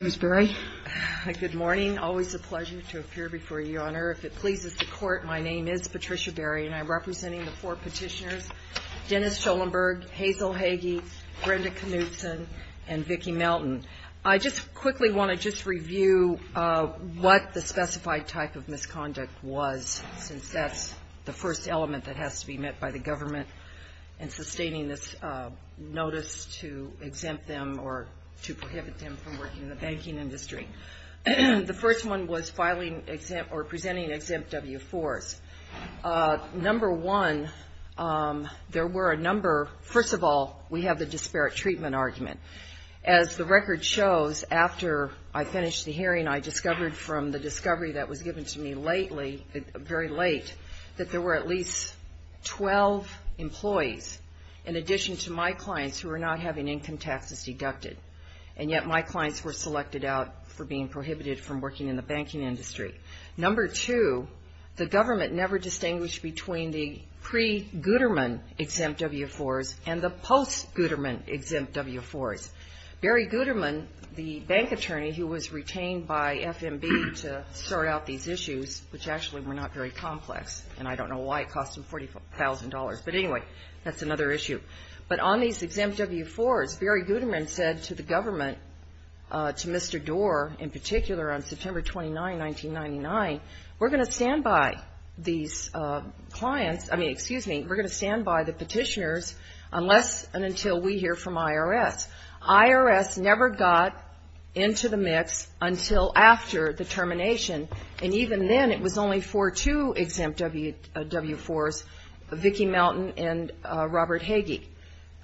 Good morning. Always a pleasure to appear before you, Your Honor. If it pleases the Court, my name is Patricia Berry, and I'm representing the four petitioners, Dennis Schollenburg, Hazel Hagey, Brenda Knudson, and Vicki Melton. I just quickly want to just review what the specified type of misconduct was, since that's the first element that has to be met by the government in sustaining this notice to exempt them or to prohibit them from working in the banking industry. The first one was presenting exempt W-4s. First of all, we have the disparate treatment argument. As the record shows, after I finished the hearing, I discovered from the discovery that was given to me very late that there were at least 12 employees, in addition to my clients, who were not having income taxes deducted. And yet my clients were selected out for being prohibited from working in the banking industry. Number two, the government never distinguished between the pre-Guterman exempt W-4s and the post-Guterman exempt W-4s. Barry Guterman, the bank attorney who was retained by FMB to sort out these issues, which actually were not very complex, and I don't know why it cost him $40,000, but anyway, that's another issue. But on these exempt W-4s, Barry Guterman said to the government, to Mr. Doar in particular, on September 29, 1999, we're going to stand by these clients, I mean, excuse me, we're going to stand by the petitioners unless and until we hear from IRS. IRS never got into the mix until after the termination, and even then, it was only for two exempt W-4s, Vicki Mountain and Robert Hagee.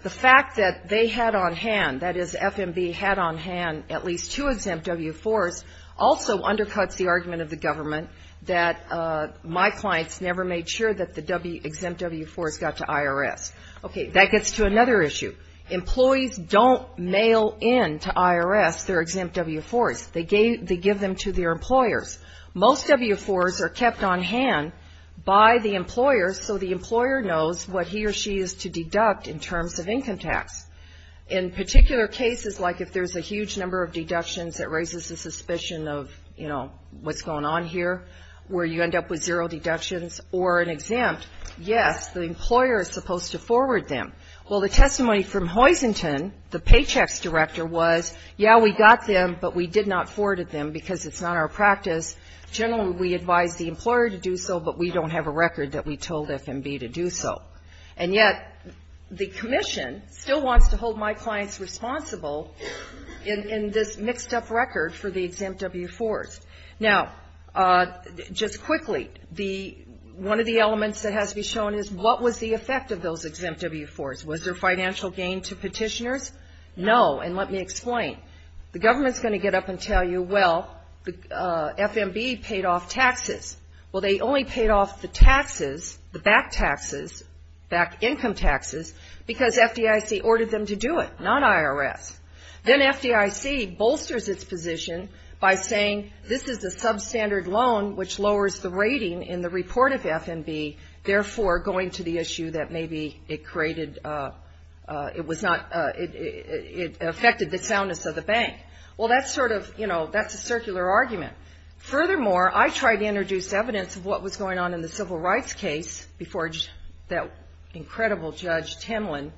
The fact that they had on hand, that is, FMB had on hand at least two exempt W-4s also undercuts the argument of the government that my clients never made sure that the exempt W-4s got to IRS. Okay, that gets to another issue. Employees don't mail in to IRS their exempt W-4s. They give them to their employers. Most W-4s are kept on hand by the employer, so the employer knows what he or she is to deduct in terms of income tax. In particular cases, like if there's a huge number of deductions that raises the suspicion of, you know, what's going on here, where you end up with zero deductions or an exempt, yes, the employer is supposed to forward them. Well, the testimony from Hoisington, the Paychecks Director, was, yeah, we got them, but we did not forward them because it's not our practice. Generally, we advise the employer to do so, but we don't have a record that we told FMB to do so. And yet, the commission still wants to hold my clients responsible in this mixed-up record for the exempt W-4s. Now, just quickly, one of the elements that has to be shown is, what was the effect of those exempt W-4s? Was there financial gain to petitioners? No, and let me explain. The government is going to get up and tell you, well, FMB paid off taxes. Well, they only paid off the taxes, the back taxes, back income taxes, because FDIC ordered them to do it, not IRS. Then FDIC bolsters its position by saying, this is what we're going to do. This is a substandard loan, which lowers the rating in the report of FMB, therefore going to the issue that maybe it created, it was not, it affected the soundness of the bank. Well, that's sort of, you know, that's a circular argument. Furthermore, I tried to introduce evidence of what was going on in the civil rights case before that incredible Judge Timlin.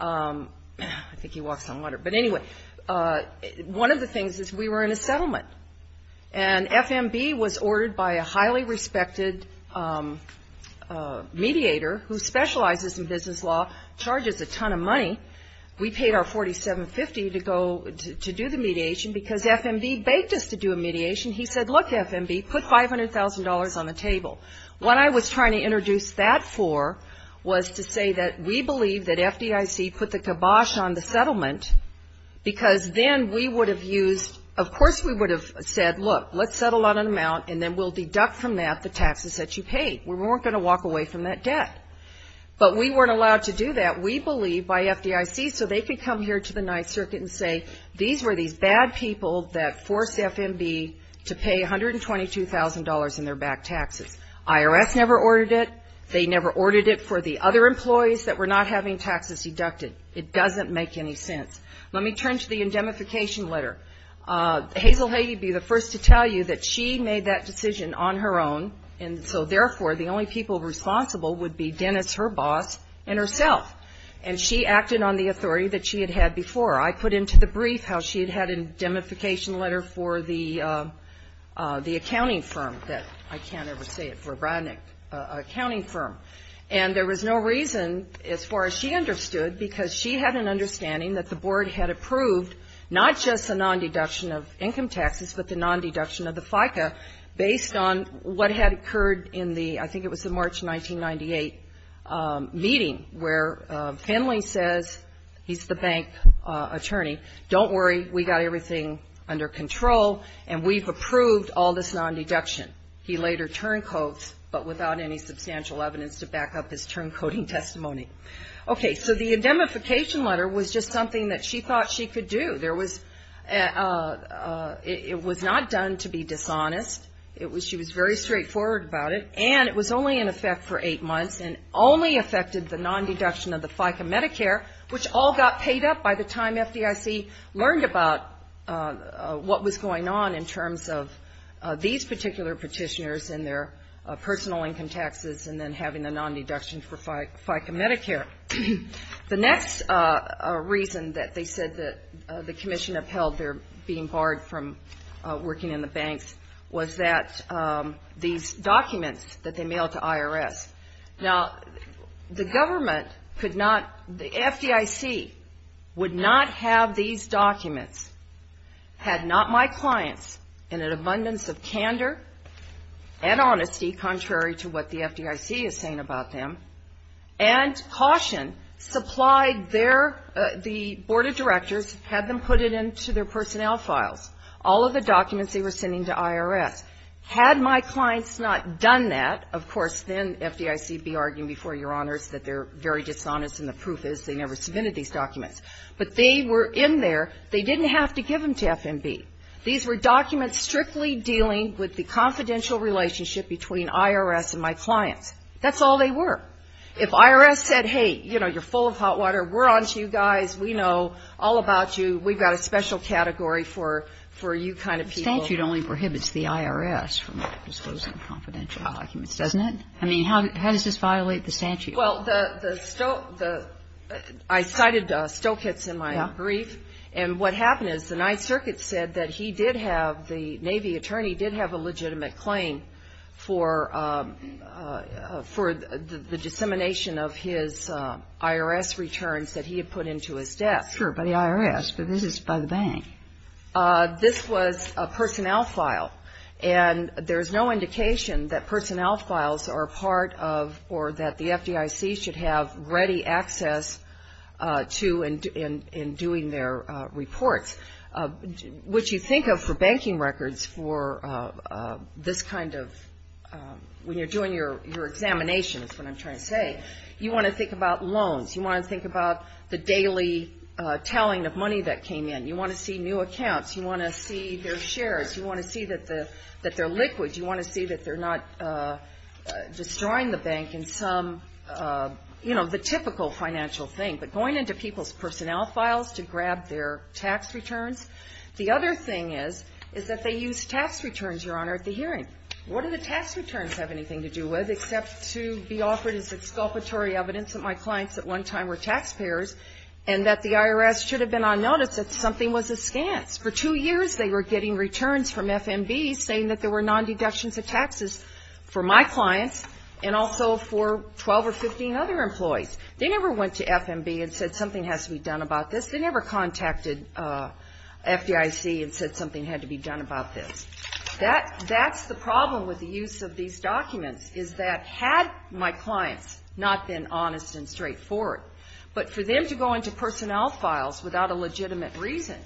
I think he walks on water. But anyway, one of the things is, we were in a settlement. And FMB was ordered by a highly respected mediator, who specializes in business law, charges a ton of money. We paid our $47.50 to go, to do the mediation, because FMB baked us to do a mediation. He said, look, FMB, put $500,000 on the table. What I was trying to introduce that for was to say that we believe that FDIC put the kibosh on the settlement, because then we would have used, of course we would have used the $500,000. We would have said, look, let's settle on an amount, and then we'll deduct from that the taxes that you paid. We weren't going to walk away from that debt. But we weren't allowed to do that, we believe, by FDIC, so they could come here to the Ninth Circuit and say, these were these bad people that forced FMB to pay $122,000 in their back taxes. IRS never ordered it. They never ordered it for the other employees that were not having taxes deducted. It doesn't make any sense. Let me turn to the indemnification letter. Hazel Haguey would be the first to tell you that she made that decision on her own, and so, therefore, the only people responsible would be Dennis, her boss, and herself. And she acted on the authority that she had had before. I put into the brief how she had had an indemnification letter for the accounting firm that, I can't ever say it, for a Brodnick accounting firm. And there was no reason, as far as she understood, because she had an understanding that the board had approved not just a nondeduction of income taxes, but the nondeduction of the FICA, based on what had occurred in the, I think it was the March 1998 meeting, where Finley says, he's the bank attorney, don't worry, we got everything under control, and we've approved all this nondeduction. He later turncodes, but without any substantial evidence to back up his turncoding testimony. Okay, so the indemnification letter was just something that she thought she could do. There was, it was not done to be dishonest. It was, she was very straightforward about it, and it was only in effect for eight months, and only affected the nondeduction of the FICA Medicare, which all got paid up by the time FDIC learned about what was going on in terms of these particular people. They were petitioners and their personal income taxes, and then having the nondeduction for FICA Medicare. The next reason that they said that the commission upheld their being barred from working in the banks was that these documents that they mailed to IRS. Now, the government could not, the FDIC would not have these documents had not my clients, in an abundance of candor and honesty, contrary to what the FDIC is saying about them, and caution supplied their, the board of directors had them put it into their personnel files, all of the documents they were sending to IRS. Had my clients not done that, of course, then FDIC would be arguing before Your Honors that they're very dishonest, and the proof is they never submitted these documents. But they were in there, they didn't have to give them to F&B. These were documents strictly dealing with the confidential relationship between IRS and my clients. That's all they were. If IRS said, hey, you know, you're full of hot water, we're onto you guys, we know all about you, we've got a special category for you kind of people. But the statute only prohibits the IRS from disclosing confidential documents, doesn't it? I mean, how does this violate the statute? Well, the, the, the, I cited Stokett's in my brief, and what happened is the Ninth Circuit said that he did have, the Navy attorney did have a legitimate claim for, for the dissemination of his IRS returns that he had put into his desk. Sure, by the IRS, but this is by the bank. This was a personnel file, and there's no indication that personnel files are part of, or that the FDIC should have ready access to in, in, in doing their reports, which you think of for banking records for this kind of, when you're doing your, your examination is what I'm trying to say, you want to think about loans. You want to think about the daily telling of money that came in. You want to see new accounts. You want to see their shares. You want to see that the, that they're liquid. You want to see that they're not destroying the bank in some, you know, the typical financial thing. But going into people's personnel files to grab their tax returns. The other thing is, is that they use tax returns, Your Honor, at the hearing. What do the tax returns have anything to do with except to be offered as exculpatory evidence that my clients at one time were taxpayers and that the IRS should have been on notice that something was askance. For two years they were getting returns from FMB saying that there were non-deductions of taxes for my clients and also for 12 or 15 other employees. They never went to FMB and said something has to be done about this. They never contacted FDIC and said something had to be done about this. That, that's the problem with the use of these documents, is that had my clients not been honest and straightforward, but for them to go into personnel files without a legitimate reason,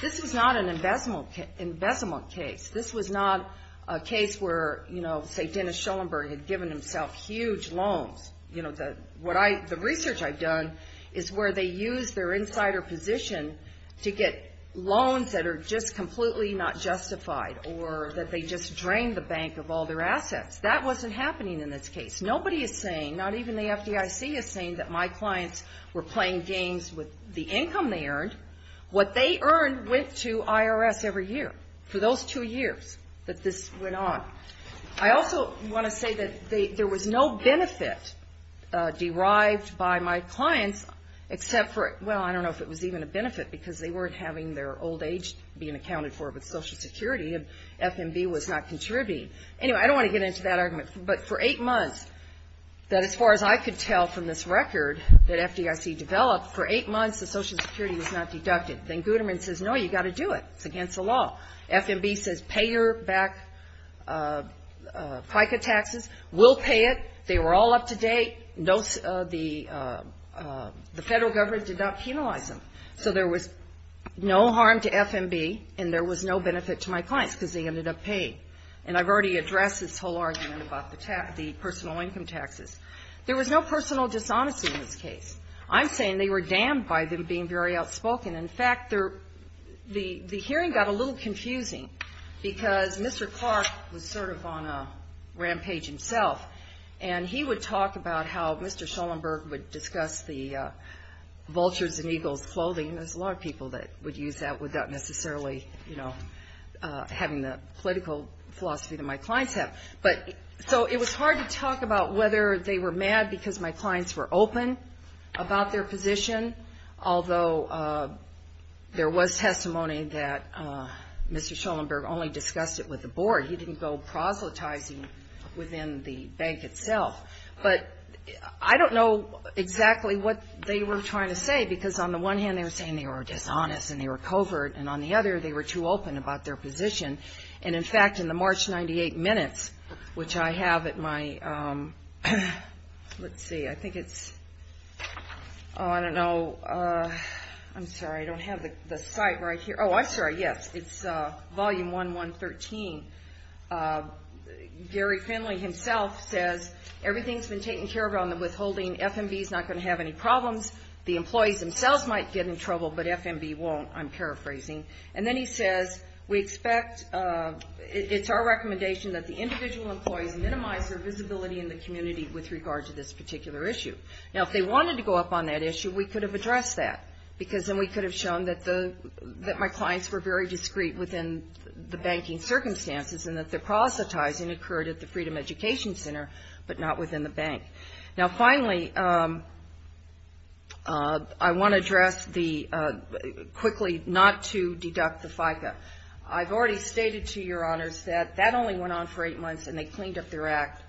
this was not an embezzlement case. This was not a case where, you know, say Dennis Schoenberg had given himself huge loans. You know, the, what I, the research I've done is where they use their insider position to get loans that are just completely not justified or that they just drained the bank of all their assets. That wasn't happening in this case. Nobody is saying, not even the FDIC is saying that my clients were playing games with the income they earned. What they earned went to IRS every year for those two years that this went on. I also want to say that they, there was no benefit derived by my clients except for, well, I don't know if it was even a benefit because they weren't having their old age being accounted for with Social Security and FMB was not contributing. Anyway, I don't want to get into that argument, but for eight months, that as far as I could tell from this record that FDIC developed, for eight months the Social Security was not deducted. Then Guterman says, no, you've got to do it, it's against the law. FMB says pay your back FICA taxes, we'll pay it, they were all up to date, the federal government did not penalize them. So there was no harm to FMB and there was no benefit to my clients because they ended up paying. And I've already addressed this whole argument about the personal income taxes. There was no personal dishonesty in this case. I'm saying they were damned by them being very outspoken. In fact, the hearing got a little confusing because Mr. Clark was sort of on a rampage himself. And he would talk about how Mr. Schoenberg would discuss the vultures and eagles clothing. There's a lot of people that would use that without necessarily, you know, having the political philosophy that my clients have. But, so it was hard to talk about whether they were mad because my clients were open about their position. Although there was testimony that Mr. Schoenberg only discussed it with the board. He didn't go proselytizing within the bank itself. But I don't know exactly what they were trying to say because on the one hand they were saying they were dishonest and they were covert. And on the other, they were too open about their position. And in fact, in the March 98 minutes, which I have at my, let's see, I think it's, oh, I don't know, I'm sorry, I don't have the site right here. Oh, I'm sorry, yes, it's volume 1113. Gary Finley himself says, everything's been taken care of on the withholding, F&B's not going to have any problems. The employees themselves might get in trouble, but F&B won't, I'm paraphrasing. And then he says, we expect, it's our recommendation that the individual employees minimize their visibility in the community with regard to this particular issue. Now, if they wanted to go up on that issue, we could have addressed that. Because then we could have shown that the, that my clients were very discreet within the banking circumstances and that the proselytizing occurred at the Freedom Education Center, but not within the bank. Now, finally, I want to address the, quickly, not to deduct the FICA. I've already stated to your honors that that only went on for eight months and they cleaned up their act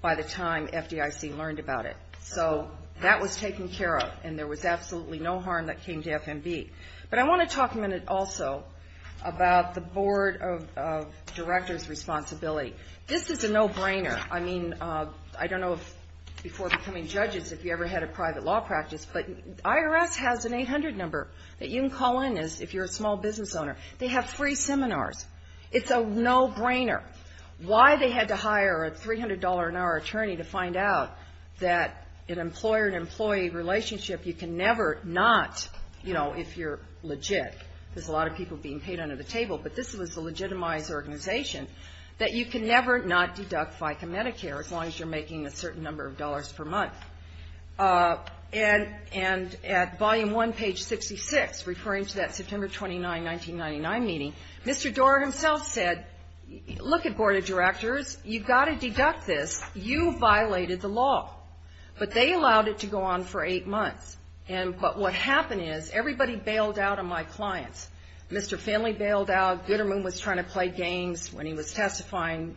by the time FDIC learned about it. So that was taken care of and there was absolutely no harm that came to F&B. But I want to talk a minute also about the Board of Directors' responsibility. This is a no-brainer. I mean, I don't know if, before becoming judges, if you ever had a private law practice, but IRS has an 800 number that you can call in if you're a small business owner. They have free seminars. It's a no-brainer why they had to hire a $300-an-hour attorney to find out that an employer-to-employee relationship you can never not, you know, if you're legit, there's a lot of people being paid under the table, but this was a legitimized organization, that you can never not deduct FICA Medicare, as long as you're making a certain number of dollars per month. And at volume one, page 66, referring to that September 29, 1999 meeting, Mr. Doar himself said, look at Board of Directors, you've got to deduct this. You violated the law. But they allowed it to go on for eight months. And but what happened is everybody bailed out on my clients. Mr. Finley bailed out. Gitterman was trying to play games when he was testifying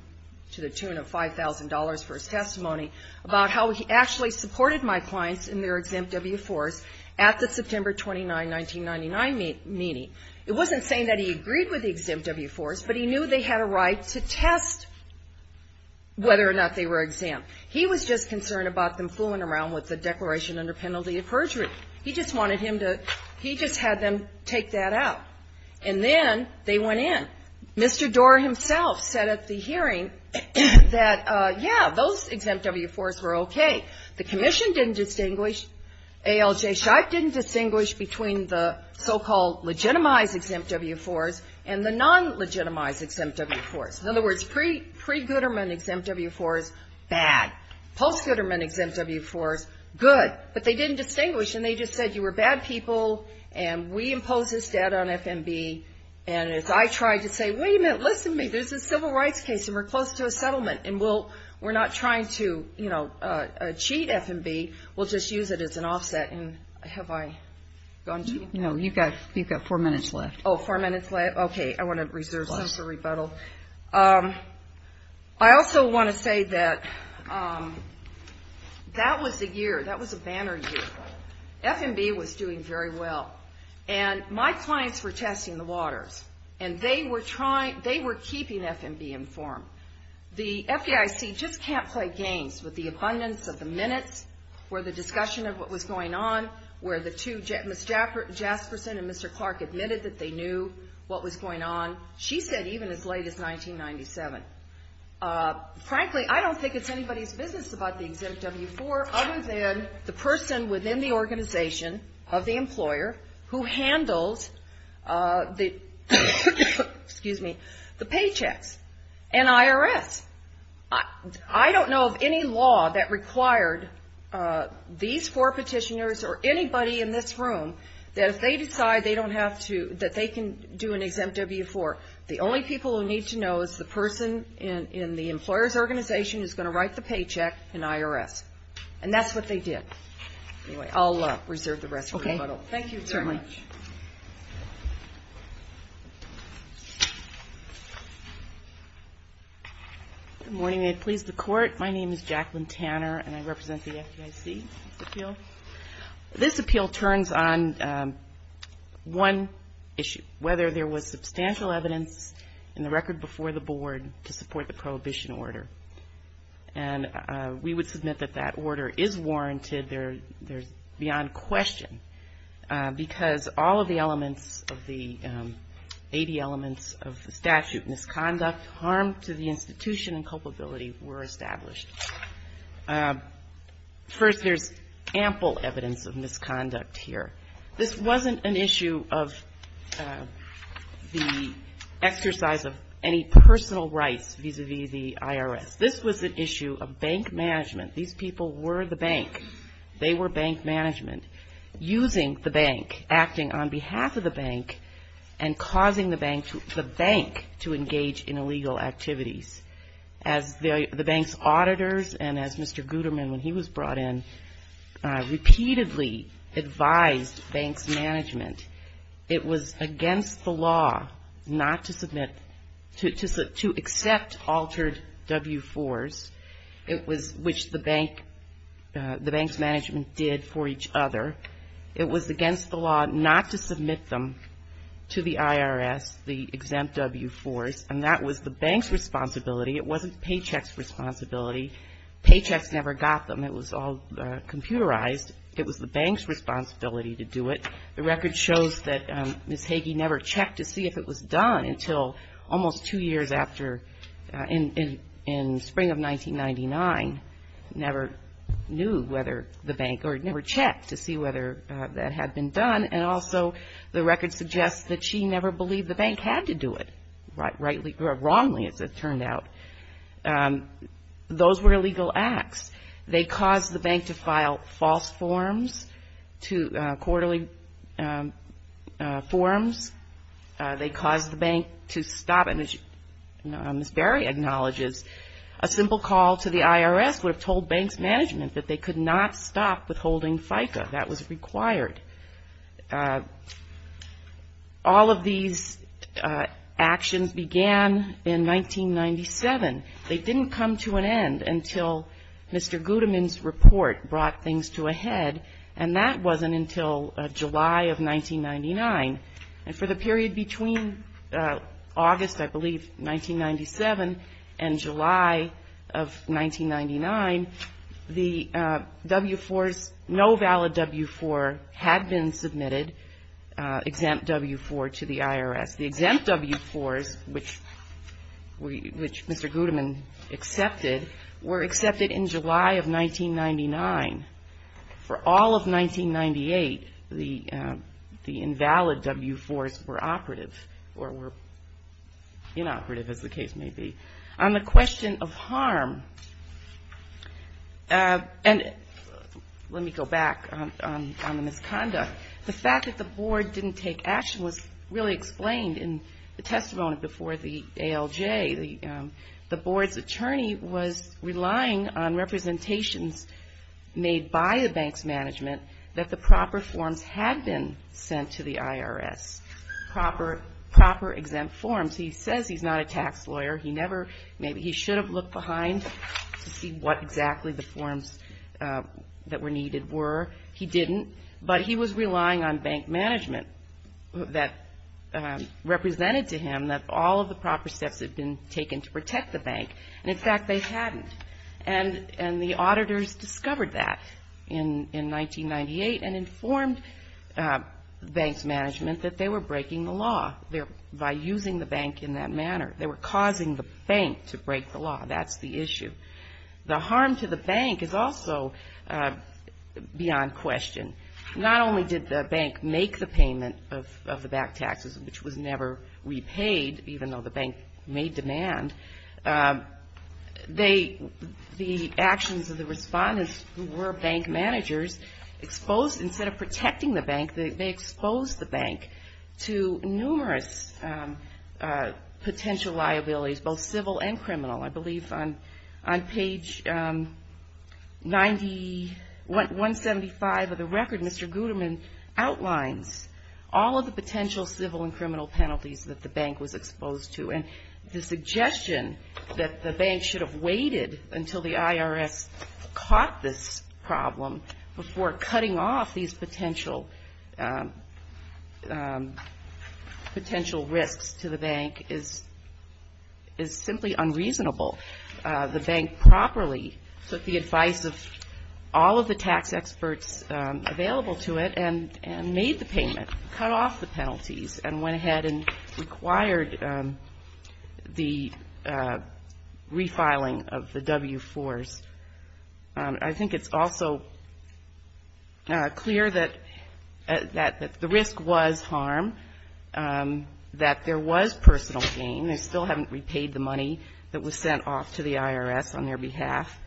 to the tune of $5,000 for his testimony about how he actually supported my clients in their exempt W-4s at the September 29, 1999 meeting. It wasn't saying that he agreed with the exempt W-4s, but he knew they had a right to test whether or not they were exempt. He was just concerned about them fooling around with the declaration under penalty of perjury. He just wanted him to, he just had them take that out. And then they went in. Mr. Doar himself said at the hearing that, yeah, those exempt W-4s were okay. The commission didn't distinguish, ALJ Scheib didn't distinguish between the so-called legitimized exempt W-4s and the non-legitimized exempt W-4s. In other words, pre-Gitterman exempt W-4s, bad. Post-Gitterman exempt W-4s, good. But they didn't distinguish. They just said you were bad people, and we impose this debt on FMB. And if I tried to say, wait a minute, listen to me, this is a civil rights case, and we're close to a settlement, and we're not trying to, you know, cheat FMB, we'll just use it as an offset. And have I gone too far? No, you've got four minutes left. Oh, four minutes left? Okay, I want to reserve some for rebuttal. I also want to say that that was the year, that was a banner year. FMB was doing very well, and my clients were testing the waters. And they were trying, they were keeping FMB informed. The FDIC just can't play games with the abundance of the minutes where the discussion of what was going on, where the two, Ms. Jasperson and Mr. Clark admitted that they knew what was going on. She said even as late as 1997. Frankly, I don't think it's anybody's business about the exempt W-4 other than the person within the organization of the employer who handles the, excuse me, the paychecks and IRS. I don't know of any law that required these four petitioners or anybody in this room that if they decide they don't have to, that they can do an exempt W-4. The only people who need to know is the person in the employer's organization who's going to write the paycheck and IRS. And that's what they did. Anyway, I'll reserve the rest for rebuttal. Thank you very much. Good morning. May it please the Court. My name is Jacqueline Tanner, and I represent the FDIC. This appeal turns on one issue, whether there was substantial evidence in the record before the Board to support the prohibition order. And we would submit that that order is warranted. There's beyond question, because all of the elements of the 80 elements of the statute, misconduct, harm to the institution and culpability were established. First, there's ample evidence of misconduct here. This wasn't an issue of the exercise of any personal rights vis-a-vis the IRS. This was an issue of bank management. These people were the bank. They were bank management, using the bank, acting on behalf of the bank, and causing the bank to engage in illegal activities. As the bank's auditors, and as Mr. Guterman, when he was brought in, repeatedly advised bank's management, it was against the law not to submit, to accept altered W-4s, which the bank, the bank's auditors, were not allowed to submit. It was against the law not to submit them to the IRS, the exempt W-4s, and that was the bank's responsibility. It wasn't paychecks' responsibility. Paychecks never got them. It was all computerized. It was the bank's responsibility to do it. The record shows that Ms. Hagey never checked to see if it was done until almost two years after, in spring of 1999, never knew whether the bank, or never checked to see whether that had been done. And also, the record suggests that she never believed the bank had to do it, rightly, or wrongly, as it turned out. Those were illegal acts. They caused the bank to file false forms, quarterly forms. They caused the bank to stop, and as Ms. Barry acknowledges, a simple call to the IRS would have told bank's management that they could not stop withholding FICA. That was required. All of these actions began in 1997. They didn't come to an end until Mr. Gudeman's report brought things to a head, and that wasn't until July of 1999. And for the period between August, I believe, 1997, and July of 1999, the W-4s, no valid W-4, had to be withdrawn. The W-4s had been submitted, exempt W-4, to the IRS. The exempt W-4s, which Mr. Gudeman accepted, were accepted in July of 1999. For all of 1998, the invalid W-4s were operative, or were inoperative, as the case may be. On the question of harm, and let me go back on the misconduct of the W-4s. The fact that the board didn't take action was really explained in the testimony before the ALJ. The board's attorney was relying on representations made by the bank's management that the proper forms had been sent to the IRS, proper exempt forms. He says he's not a tax lawyer, he never, maybe he should have looked behind to see what exactly the forms that were needed were. He didn't, but he was relying on bank management that represented to him that all of the proper steps had been taken to protect the bank. And in fact, they hadn't. And the auditors discovered that in 1998, and informed bank's management that they were breaking the law by using the bank in that manner. They were causing the bank to break the law, that's the issue. The harm to the bank is also beyond question. Not only did the bank make the payment of the back taxes, which was never repaid, even though the bank made demand, the actions of the respondents who were bank managers exposed, instead of protecting the bank, they exposed the bank to numerous potential liabilities, both civil and criminal. I believe on page 90, 175 of the record, Mr. Guterman outlines all of the potential civil and criminal penalties that the bank was exposed to. And the suggestion that the bank should have waited until the IRS caught this problem before cutting off these potential risks to the bank is simply unreasonable. The bank properly took the advice of all of the tax experts available to it and made the payment, cut off the penalties, and went ahead and required the refiling of the W-4s. I think it's also clear that the risk was harm, that there was personal gain. They still haven't repaid the money that was sent off to the IRS on their behalf.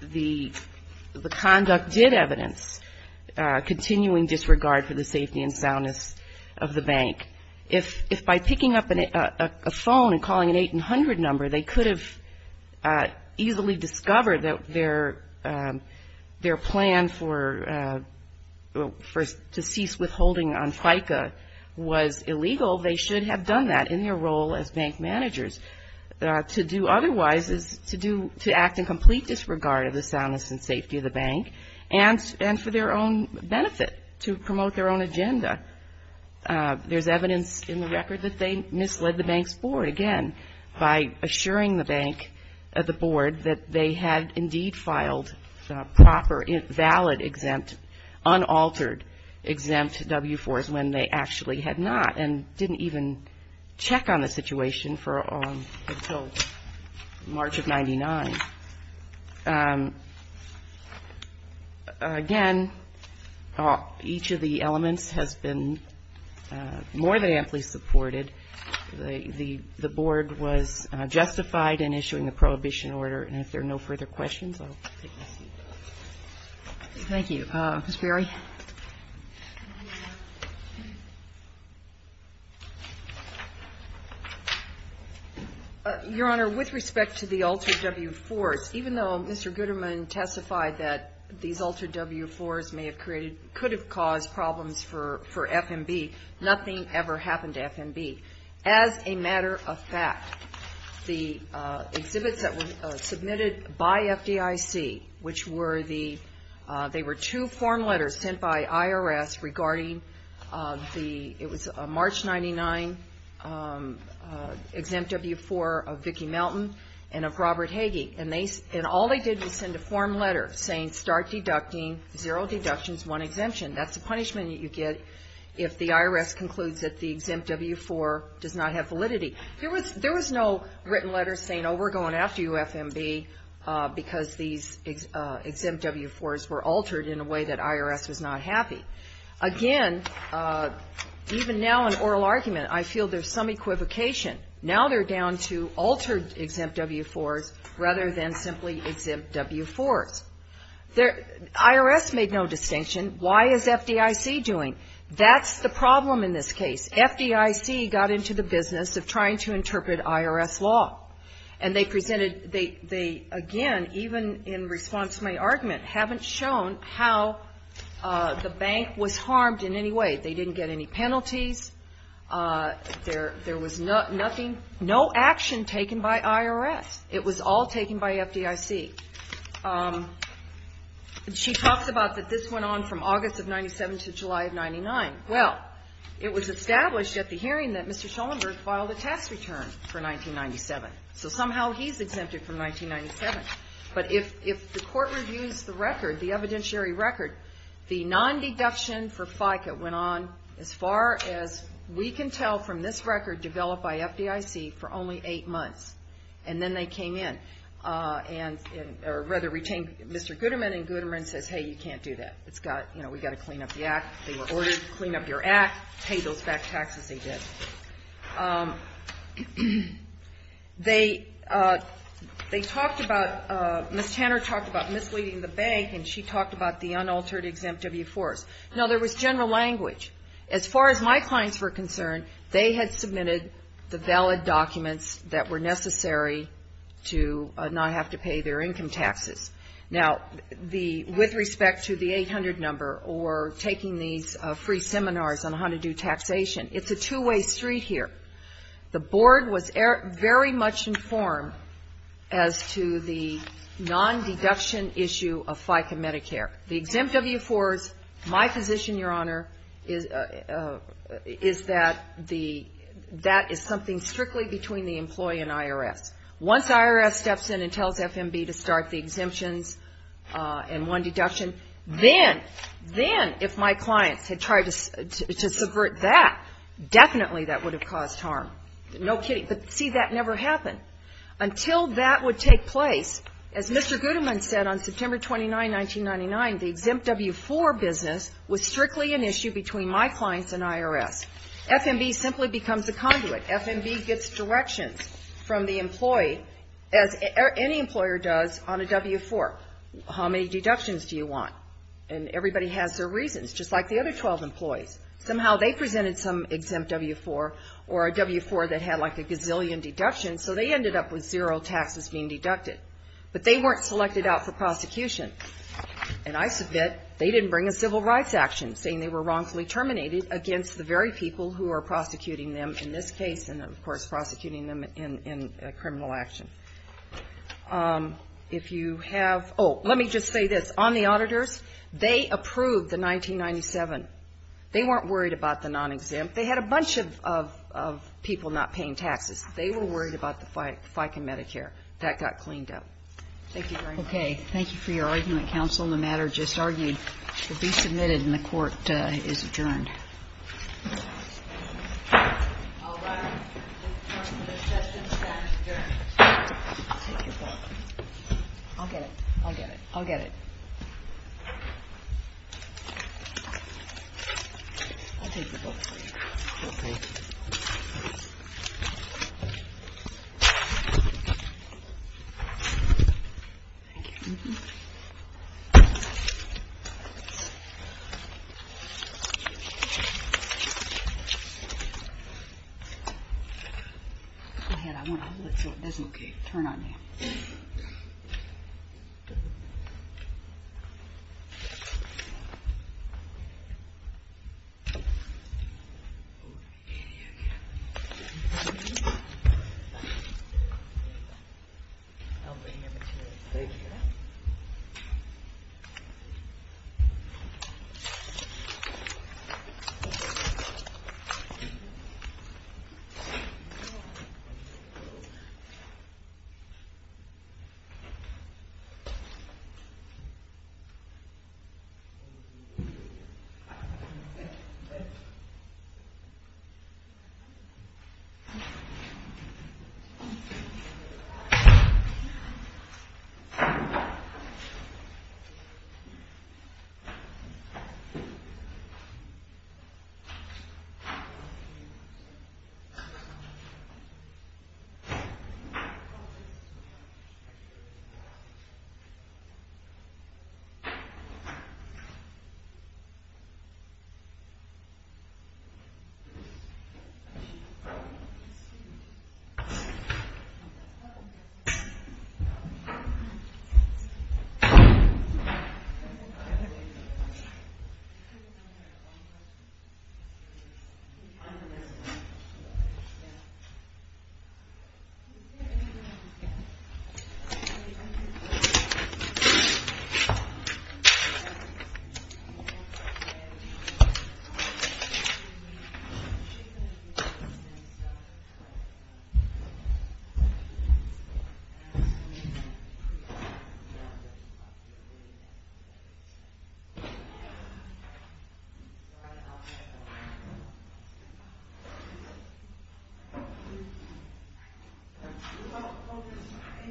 The conduct did evidence continuing disregard for the safety and soundness of the bank. If by picking up a phone and calling an 800 number, they could have easily discovered that their plan to cease withholding on FICA was illegal, they should have done that in their role as bank managers. To do otherwise is to act in complete disregard of the soundness and safety of the bank, and for their own benefit, to promote their own agenda. There's evidence in the record that they misled the bank's board, again, by assuring the bank, the board, that they had indeed filed proper, valid, exempt, unaltered, exempt W-4s when they actually had not. And didn't even check on the situation until March of 99. Again, each of the elements has been more than amply supported. The board was justified in issuing the prohibition order, and if there are no further questions, I'll take my seat. Thank you. Your Honor, with respect to the altered W-4s, even though Mr. Gooderman testified that these altered W-4s may have created, could have caused problems for FMB, nothing ever happened to FMB. As a matter of fact, the exhibits that were submitted by FDIC, which were the, they were two form letters sent by IRS regarding the, it was a March 99 exempt W-4 of Vicki Melton and of Robert Hagee. And they, and all they did was send a form letter saying, start deducting, zero deductions, one exemption. That's the punishment that you get if the IRS concludes that the exempt W-4 does not have validity. There was no written letter saying, oh, we're going after you, FMB, because these exempt W-4s were altered in a way that IRS was not happy. Again, even now in oral argument, I feel there's some equivocation. Now they're down to altered exempt W-4s rather than simply exempt W-4s. IRS made no distinction. Why is FDIC doing? That's the problem in this case. FDIC got into the business of trying to interpret IRS law. And they presented, they again, even in response to my argument, haven't shown how the bank was harmed in any way. They didn't get any penalties. There was nothing, no action taken by IRS. It was all taken by FDIC. She talks about that this went on from August of 97 to July of 99. Well, it was established at the hearing that Mr. Schoenberg filed a tax return for 1997. So somehow he's exempted from 1997. But if the court reviews the record, the evidentiary record, the non-deduction for FICA went on, as far as we can tell, from this record developed by FDIC, for only eight months. And then they came in and, or rather retained Mr. Goodman, and Goodman says, hey, you can't do that. It's got, you know, we've got to clean up the act. They were ordered to clean up your act, pay those back taxes they did. They talked about, Ms. Tanner talked about misleading the bank, and she talked about the unaltered exempt W-4s. No, there was general language. As far as my clients were concerned, they had submitted the valid documents that were necessary to not have to pay their income taxes. Now, the, with respect to the 800 number or taking these free seminars on how to do taxation, it's a two-way street here. The board was very much informed as to the non-deduction issue of FICA Medicare. The exempt W-4s, my position, Your Honor, is that the, that is something strictly between the employee and IRS. Once IRS steps in and tells FMB to start the exemptions and one deduction, then, then if my clients had tried to subvert that, definitely that would have caused harm. No kidding. But see, that never happened. Until that would take place, as Mr. Goodman said on September 29, 1999, the exempt W-4 business was strictly an issue between my clients and IRS. FMB simply becomes a conduit. FMB gets directions from the employee, as any employer does, on a W-4. How many deductions do you want? And everybody has their reasons, just like the other 12 employees. Somehow they presented some exempt W-4 or a W-4 that had like a gazillion deductions, so they ended up with zero taxes being deducted. But they weren't selected out for prosecution. And I submit, they didn't bring a civil rights action, saying they were wrongfully terminated against the very people who are prosecuting them in this case, and of course prosecuting them in criminal action. If you have, oh, let me just say this. On the auditors, they approved the 1997. They weren't worried about the non-exempt. They had a bunch of people not paying taxes. They were worried about the FICA Medicare. That got cleaned up. Thank you for your argument, counsel. The matter just argued will be submitted and the court is adjourned. Thank you. Go ahead, I want to hold it so it doesn't get turned on you. Thank you. Thank you. Thank you. Thank you.